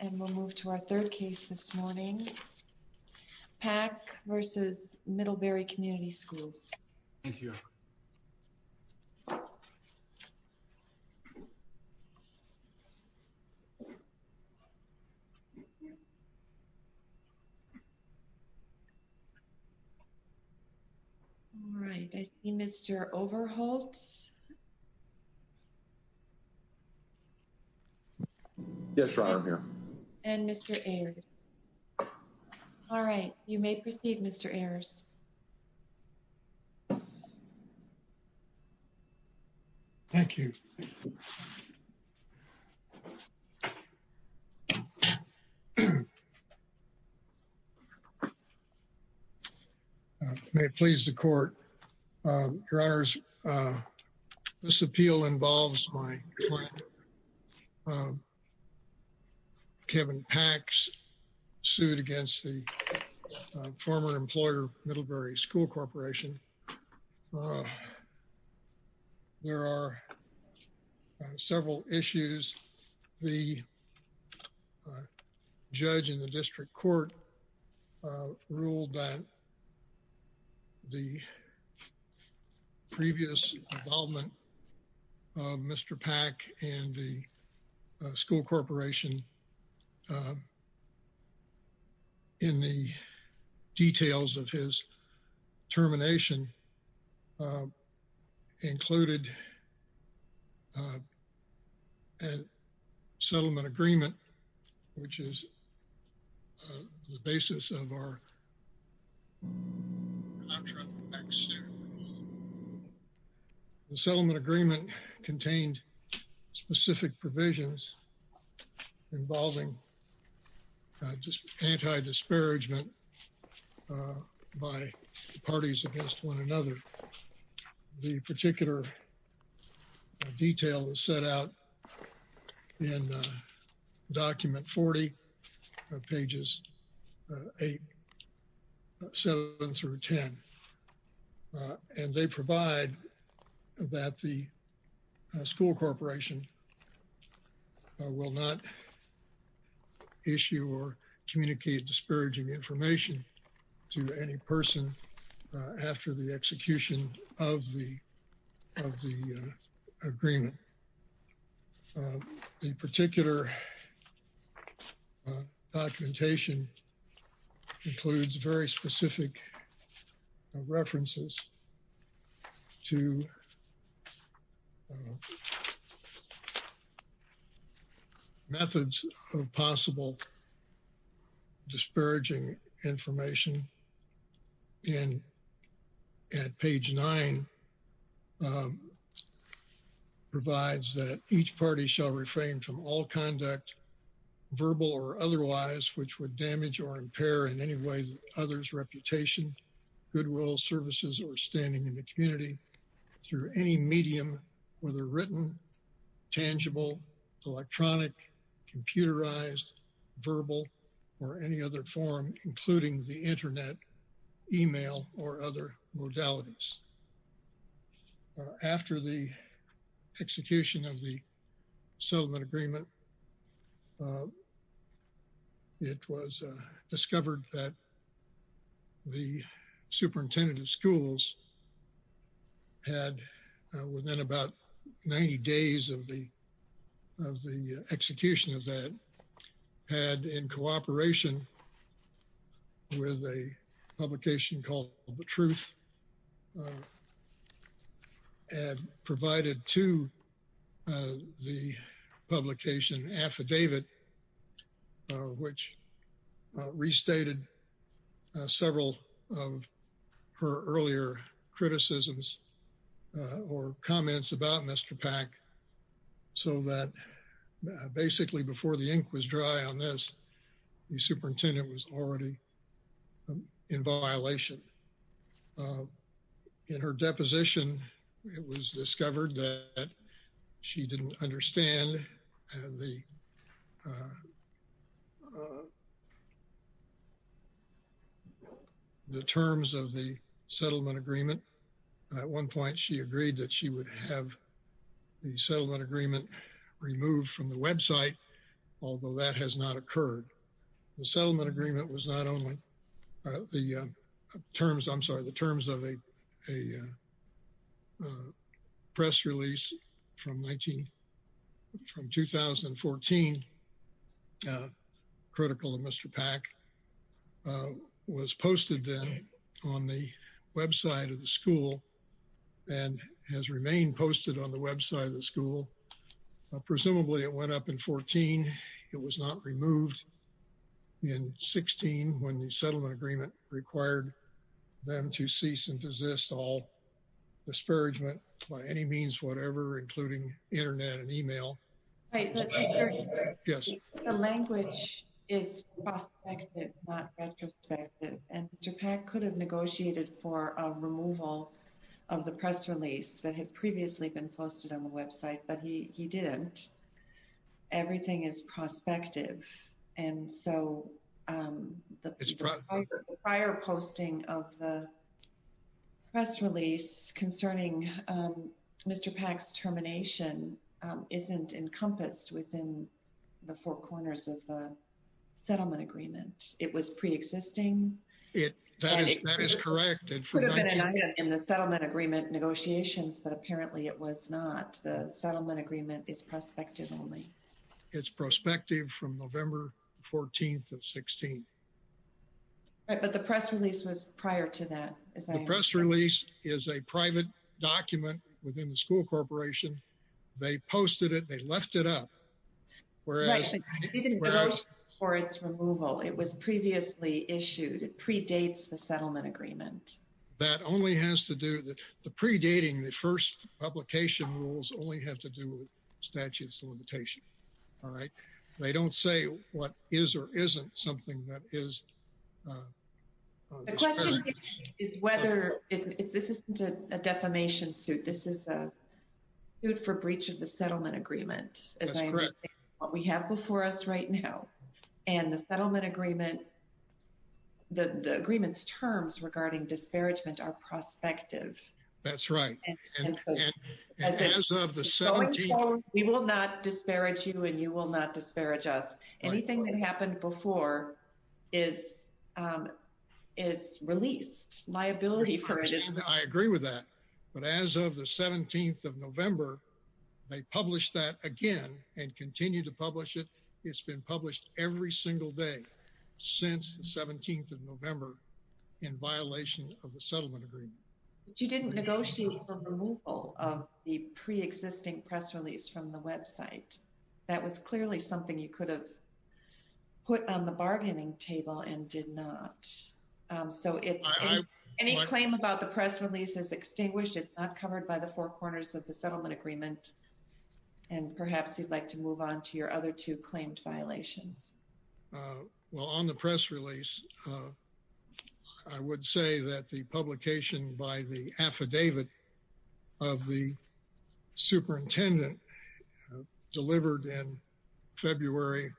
and we'll move to our third case this morning. Pack v. Middlebury Community Schools. All right, I see Mr. Overholt. Yes, Your Honor, I'm here. And Mr. Ayers. All right, you may proceed, Mr. Ayers. Thank you. May it please the Court, Your Honors, this appeal involves my client, Kevin Pax, sued against the former employer Middlebury School Corporation. There are several issues. The judge in the district court ruled that the previous involvement of Mr. Pack and the former employer Middlebury School Corporation included a settlement agreement, which is the basis of our contract. The settlement agreement contained specific provisions involving anti-disparagement by parties against one another. The particular detail was set out in document 40 of pages 8, 7 through 10. And they provide that the school corporation will not issue or communicate disparaging information to any person after the execution of the agreement. The particular documentation includes very specific references to methods of possible disparaging information. And at page 9, provides that each party shall refrain from all conduct, verbal or otherwise, which would damage or impair in any way others' reputation, goodwill, services, or standing in the community through any medium, whether written, tangible, electronic, computerized, verbal, or any other form, including the internet, email, or other modalities. After the execution of the settlement agreement, it was discovered that the school had, within about 90 days of the execution of that, had in cooperation with a publication called The Truth and provided to the publication Affidavit, which restated several of her earlier criticisms or comments about Mr. Pack, so that basically before the ink was dry on this, the superintendent was already in violation. In her deposition, it was discovered that she didn't understand the terms of the settlement agreement. At one point, she agreed that she would have the settlement agreement removed from the website, although that has not occurred. The settlement agreement was not only the terms, I'm sorry, the terms of a press release from 2014, critical of Mr. Pack, was posted on the website of the school and has remained posted on the website of the school. Presumably, it went up in 14. It was not removed in 16 when the settlement agreement required them to cease and desist all disparagement by any means whatever, including internet and email. Right, but the language is not retrospective, and Mr. Pack could have negotiated for a removal of the press release that had previously been posted on the website, but he didn't. Everything is prospective, and so the prior posting of the press release concerning Mr. Pack's termination isn't encompassed within the four corners of the settlement agreement. It was pre-existing. That is correct. It could have been an item in the settlement agreement negotiations, but apparently it was not. The settlement agreement is prospective only. It's prospective from November 14th of 16. Right, but the press release was prior to that. The press release is a private document within the school corporation. They posted it. They left it up, whereas- Right, but he didn't vote for its removal. It was previously issued. It predates the settlement agreement. That only has to do- The predating, the first publication rules only have to do with statutes of limitation, all right? They don't say what is or isn't something that is- The question is whether- This isn't a defamation suit. This is a suit for breach of the settlement agreement, as I understand- That's correct.... what we have before us right now, and the settlement agreement, the agreement's terms regarding disparagement are prospective. That's right. As of the 17th- Going forward, we will not disparage you, and you will not disparage us. Right. Anything that happened before is released. Liability for it is- I agree with that, but as of the 17th of November, they published that again and continue to publish it. It's been published every single day since the 17th of November in violation of the settlement agreement. You didn't negotiate for removal of the preexisting press release from the website. That was clearly something you could have put on the bargaining table and did not. So, any claim about the press release is extinguished. It's not covered by the other two claims. Well, on the press release, I would say that the publication by the affidavit of the superintendent delivered in February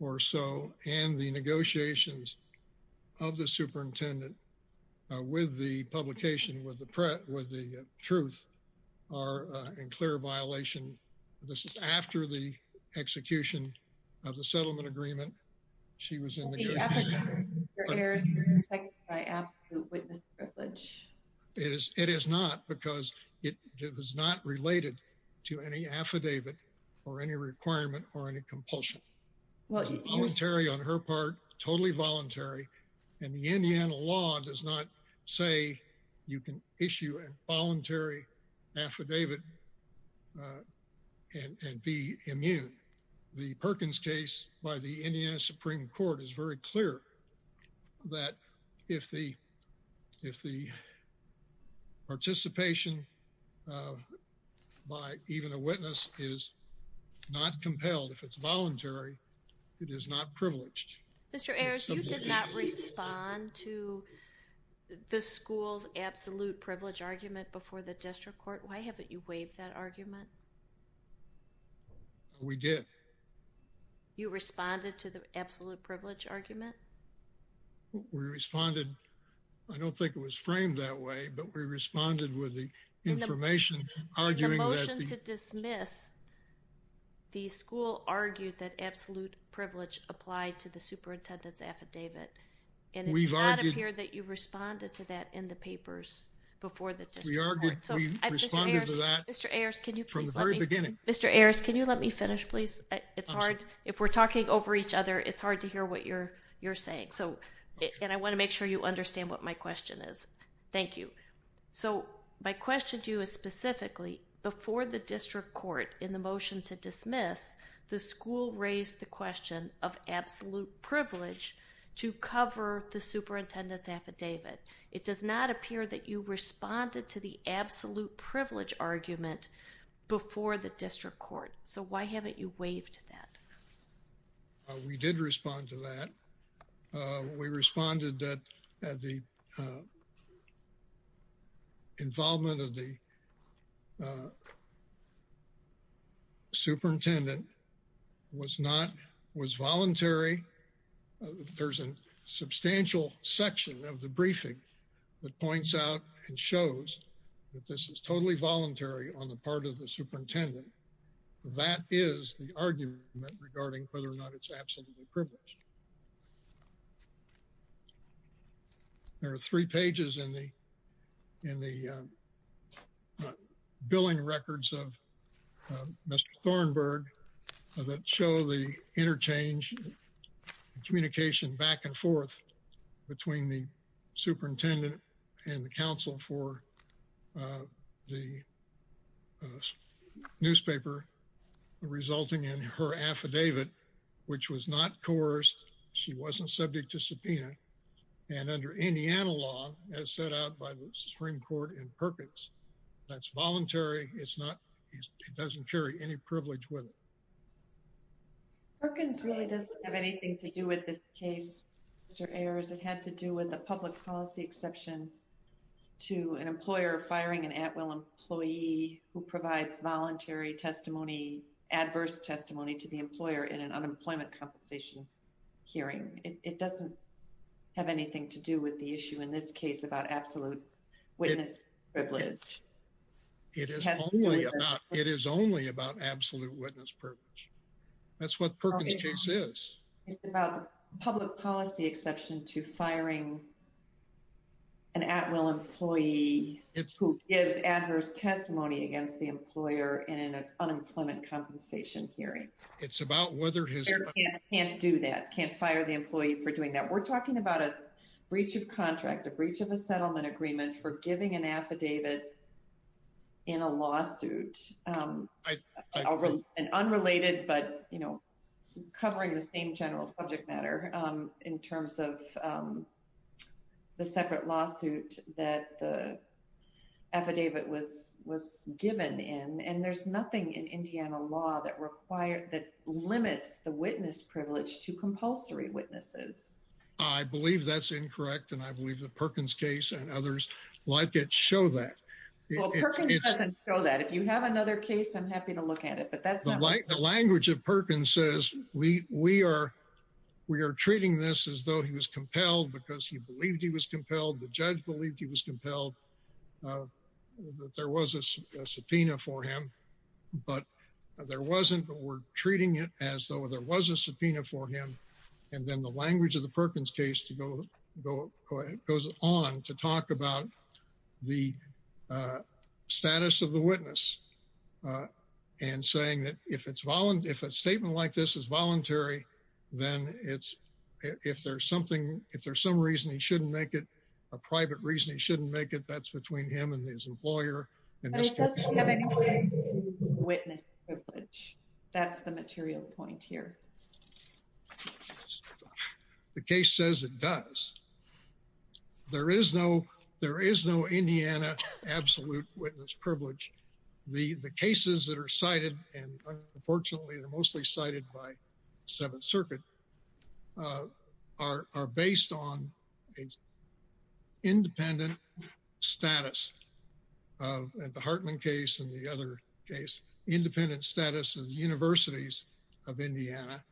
or so, and the negotiations of the superintendent with the publication, with the truth, are in clear violation. This is after the execution of the settlement agreement. She was in the- The affidavit, Mr. Ayers, is protected by absolute witness privilege. It is not because it was not related to any affidavit or any requirement or any compulsion. Well- Voluntary on her part, totally voluntary, and the Indiana law does not say you can issue a and be immune. The Perkins case by the Indiana Supreme Court is very clear that if the participation by even a witness is not compelled, if it's voluntary, it is not privileged. Mr. Ayers, you did not respond to the school's absolute privilege argument before the district court. Why haven't you waived that argument? No, we did. You responded to the absolute privilege argument? We responded. I don't think it was framed that way, but we responded with the information arguing that- In the motion to dismiss, the school argued that absolute privilege applied to the superintendent's affidavit, and it did not appear that you responded to that in the papers before the district court. We argued, we responded to that- Mr. Ayers, can you please let me- Mr. Ayers, can you let me finish, please? It's hard. If we're talking over each other, it's hard to hear what you're saying. And I want to make sure you understand what my question is. Thank you. So my question to you is specifically, before the district court in the motion to dismiss, the school raised the question of absolute privilege to cover the superintendent's affidavit. It does not appear that you responded to the absolute privilege argument before the district court. So why haven't you waived that? We did respond to that. We responded that the involvement of the superintendent was not, was voluntary. There's a substantial section of the briefing that points out and shows that this is totally voluntary on the part of the superintendent. That is the argument regarding whether or not it's absolutely privileged. There are three pages in the, in the billing records of Mr. Thornburg that show the interchange communication back and forth between the superintendent and the council for the newspaper resulting in her affidavit, which was not coerced. She wasn't subject to subpoena. And under Indiana law, as set out by the Supreme Court in Perkins, that's voluntary. It's not, it doesn't carry any privilege with it. Perkins really doesn't have anything to do with this case, Mr. Ayers. It had to do with the public policy exception to an employer firing an at-will employee who provides voluntary testimony, adverse testimony to the employer in an unemployment compensation hearing. It doesn't have anything to do with the issue in this case about absolute witness privilege. It is only about, it is only about absolute witness privilege. That's what Perkins case is. It's about public policy exception to firing an at-will employee who gives adverse testimony against the employer in an unemployment compensation hearing. It's about whether his employer can't do that, can't fire the employee for doing that. We're talking about a breach of contract, a breach of a settlement agreement for giving an affidavit in a lawsuit, unrelated but covering the same general subject matter in terms of the separate lawsuit that the affidavit was given in. And there's nothing in Indiana law that limits the witness privilege to compulsory witnesses. I believe that's incorrect. And I believe that Perkins case and others like it show that. Well, Perkins doesn't show that. If you have another case, I'm happy to look at it. But that's not... The language of Perkins says, we are treating this as though he was compelled because he believed he was compelled. The judge believed he was compelled, that there was a subpoena for him. But there wasn't, but we're treating it as though there was a subpoena for him. And then the language of the Perkins case goes on to talk about the status of the witness and saying that if a statement like this is voluntary, then if there's something, if there's some reason he shouldn't make it, a private reason he shouldn't make it, that's between him and his employer. And it doesn't have anything to do with witness privilege. That's the material point here. The case says it does. There is no, there is no Indiana absolute witness privilege. The cases that are cited, and unfortunately, they're mostly cited by Seventh Circuit, are based on an independent status. And the Hartman case and the other case, independent status of the universities of Indiana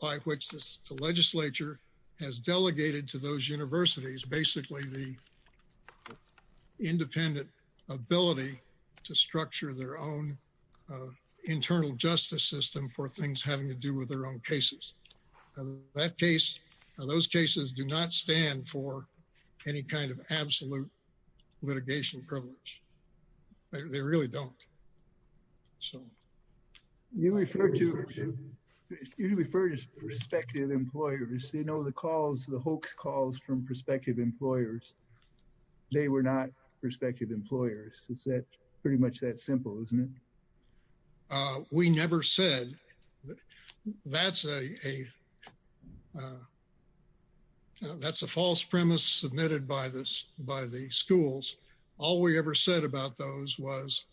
by which the legislature has delegated to those universities, basically the independent ability to structure their own internal justice system for things having to do with their own cases. That case, those cases do not stand for any kind of absolute litigation privilege. They really don't. So. You refer to, you refer to prospective employers. You know, the calls, the hoax calls from prospective employers, they were not prospective employers. It's pretty much that simple, isn't it? But we never said that's a, that's a false premise submitted by the schools. All we ever said about those was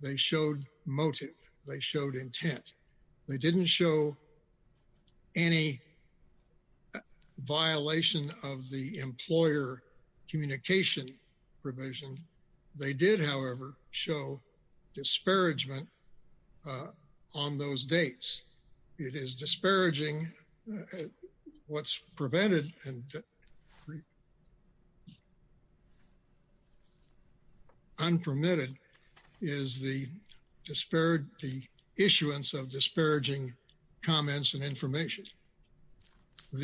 they showed motive. They showed intent. They didn't show any violation of the employer communication provision. They did, however, show disparagement on those dates. It is disparaging. What's prevented and unpermitted is the disparate, the issuance of disparaging comments and information. So,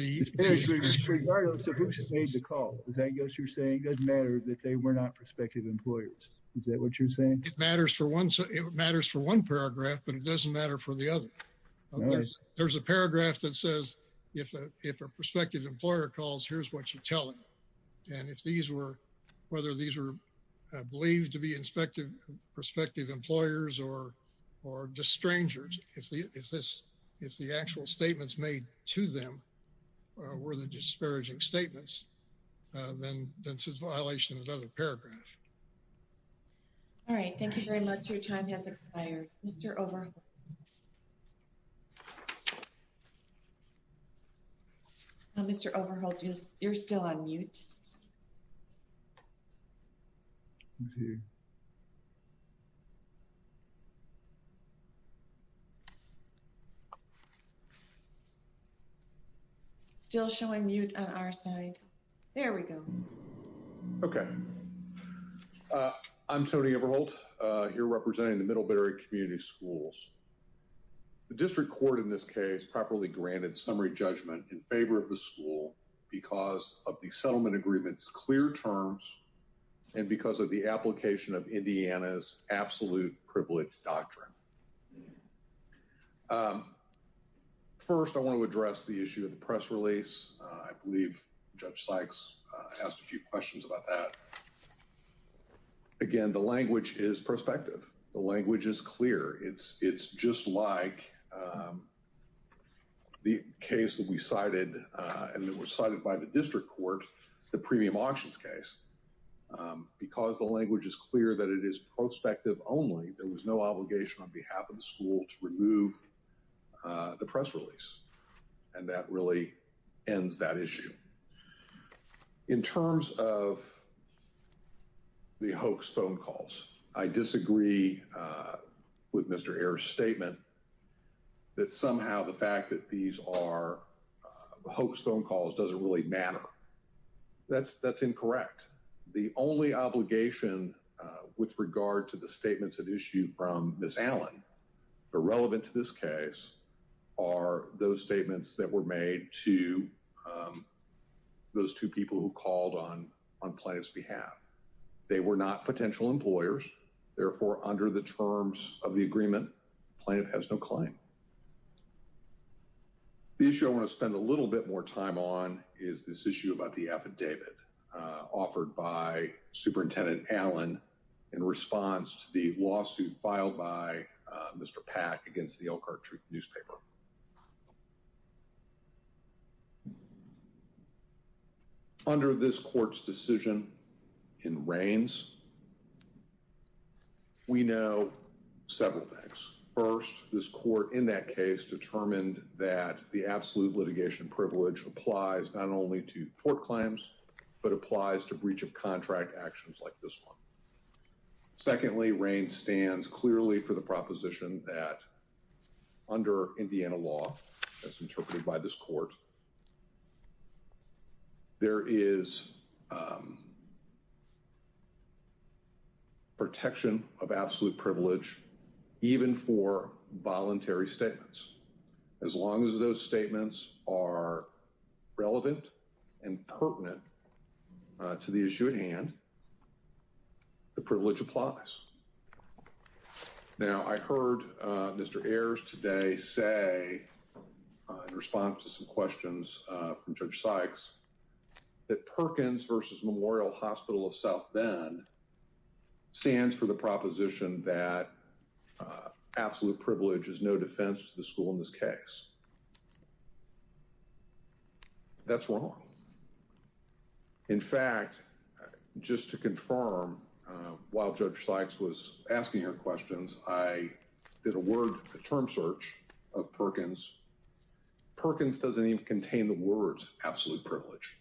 regardless of who made the call, is that what you're saying? It doesn't matter that they were not prospective employers. Is that what you're saying? It matters for one, it matters for one paragraph, but it doesn't matter for the other. There's a paragraph that says if a prospective employer calls, here's what you tell him. And if these were, whether these were believed to be prospective employers or just strangers, if the, if this, if the actual statements made to them were the disparaging statements, then that's a violation of another paragraph. All right. Thank you very much. Your time has expired. Mr. Overholt. Mr. Overholt, you're still on mute. Still showing mute on our side. There we go. Okay. I'm Tony Overholt, here representing the Middlebury Community Schools. The district court in this case properly granted summary judgment in favor of the school And I'm here representing the Middlebury Community Schools. Clear terms and because of the application of Indiana's absolute privilege doctrine. First, I want to address the issue of the press release. I believe Judge Sykes asked a few questions about that. Again, the language is prospective. The language is clear. It's just like the case that we cited and that was cited by the district court. The premium auctions case. Because the language is clear that it is prospective only, there was no obligation on behalf of the school to remove the press release. And that really ends that issue. In terms of the hoax phone calls, I disagree with Mr. Ayer's statement. That somehow the fact that these are hoax phone calls doesn't really matter. That's that's incorrect. The only obligation with regard to the statements of issue from Ms. Allen, irrelevant to this case, are those statements that were made to those two people who called on Plaintiff's behalf. They were not potential employers. Therefore, under the terms of the agreement, Plaintiff has no claim. The issue I want to spend a little bit more time on is this issue about the affidavit offered by Superintendent Allen in response to the lawsuit filed by Mr. Pack against the Elkhart Truth newspaper. Under this court's decision in Reins, we know several things. First, this court in that case determined that the absolute litigation privilege applies not only to court claims, but applies to breach of contract actions like this one. Secondly, Reins stands clearly for the proposition that under Indiana law, as interpreted by this court, there is a protection of absolute privilege even for voluntary statements. As long as those statements are relevant and pertinent to the issue at hand, the privilege applies. Now, I heard Mr. Ayers today say, in response to some questions from Judge Sykes, that Perkins versus Memorial Hospital of South Bend stands for the proposition that absolute privilege is no defense to the school in this case. That's wrong. In fact, just to confirm, while Judge Sykes was asking her questions, I did a term search of Perkins. Perkins doesn't even contain the words absolute privilege.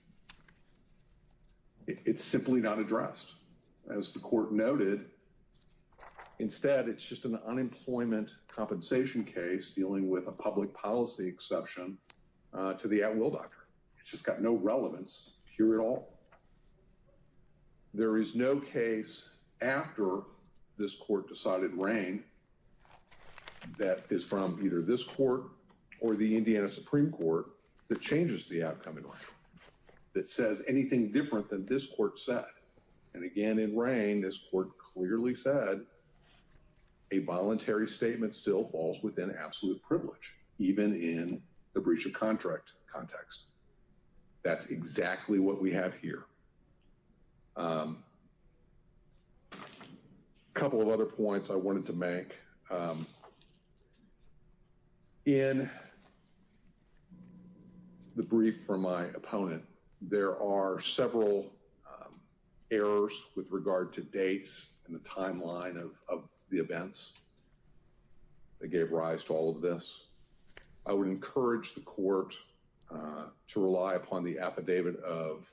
It's simply not addressed, as the court noted. Instead, it's just an unemployment compensation case dealing with a public policy exception to the at-will doctrine. It's just got no relevance here at all. There is no case after this court decided Reins that is from either this court or the Indiana Supreme Court that changes the outcome in Reins, that says anything different than this court said. And again, in Reins, this court clearly said a voluntary statement still falls within absolute privilege, even in the breach of contract context. That's exactly what we have here. A couple of other points I wanted to make. In the brief from my opponent, there are several errors with regard to dates and the timeline of the events that gave rise to all of this. I would encourage the court to rely upon the affidavit of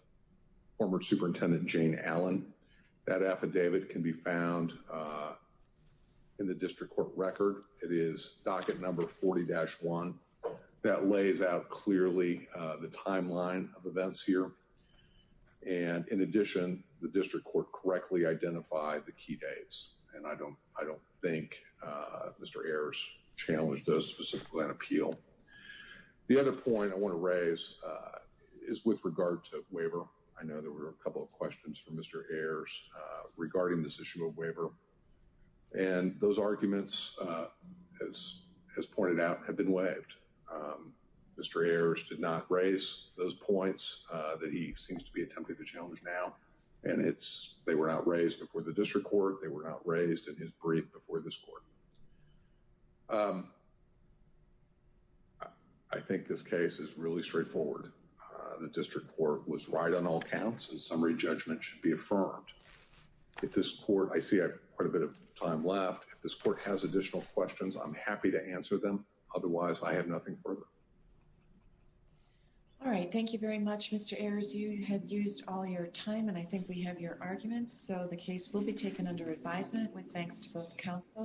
former Superintendent Jane Allen. That affidavit can be found in the district court record. It is docket number 40-1. That lays out clearly the timeline of events here. And in addition, the district court correctly identified the key dates. And I don't think Mr. Ayers challenged those specifically on appeal. The other point I want to raise is with regard to waiver. I know there were a couple of questions from Mr. Ayers regarding this issue of waiver. And those arguments, as pointed out, have been waived. Mr. Ayers did not raise those points that he seems to be attempting to challenge now. And they were not raised before the district court. They were not raised in his brief before this court. I think this case is really straightforward. The district court was right on all counts. And summary judgment should be affirmed. If this court, I see I have quite a bit of time left. If this court has additional questions, I'm happy to answer them. Otherwise, I have nothing further. All right. Thank you very much, Mr. Ayers. You had used all your time. And I think we have your arguments. So the case will be taken under advisement with thanks to both counsel.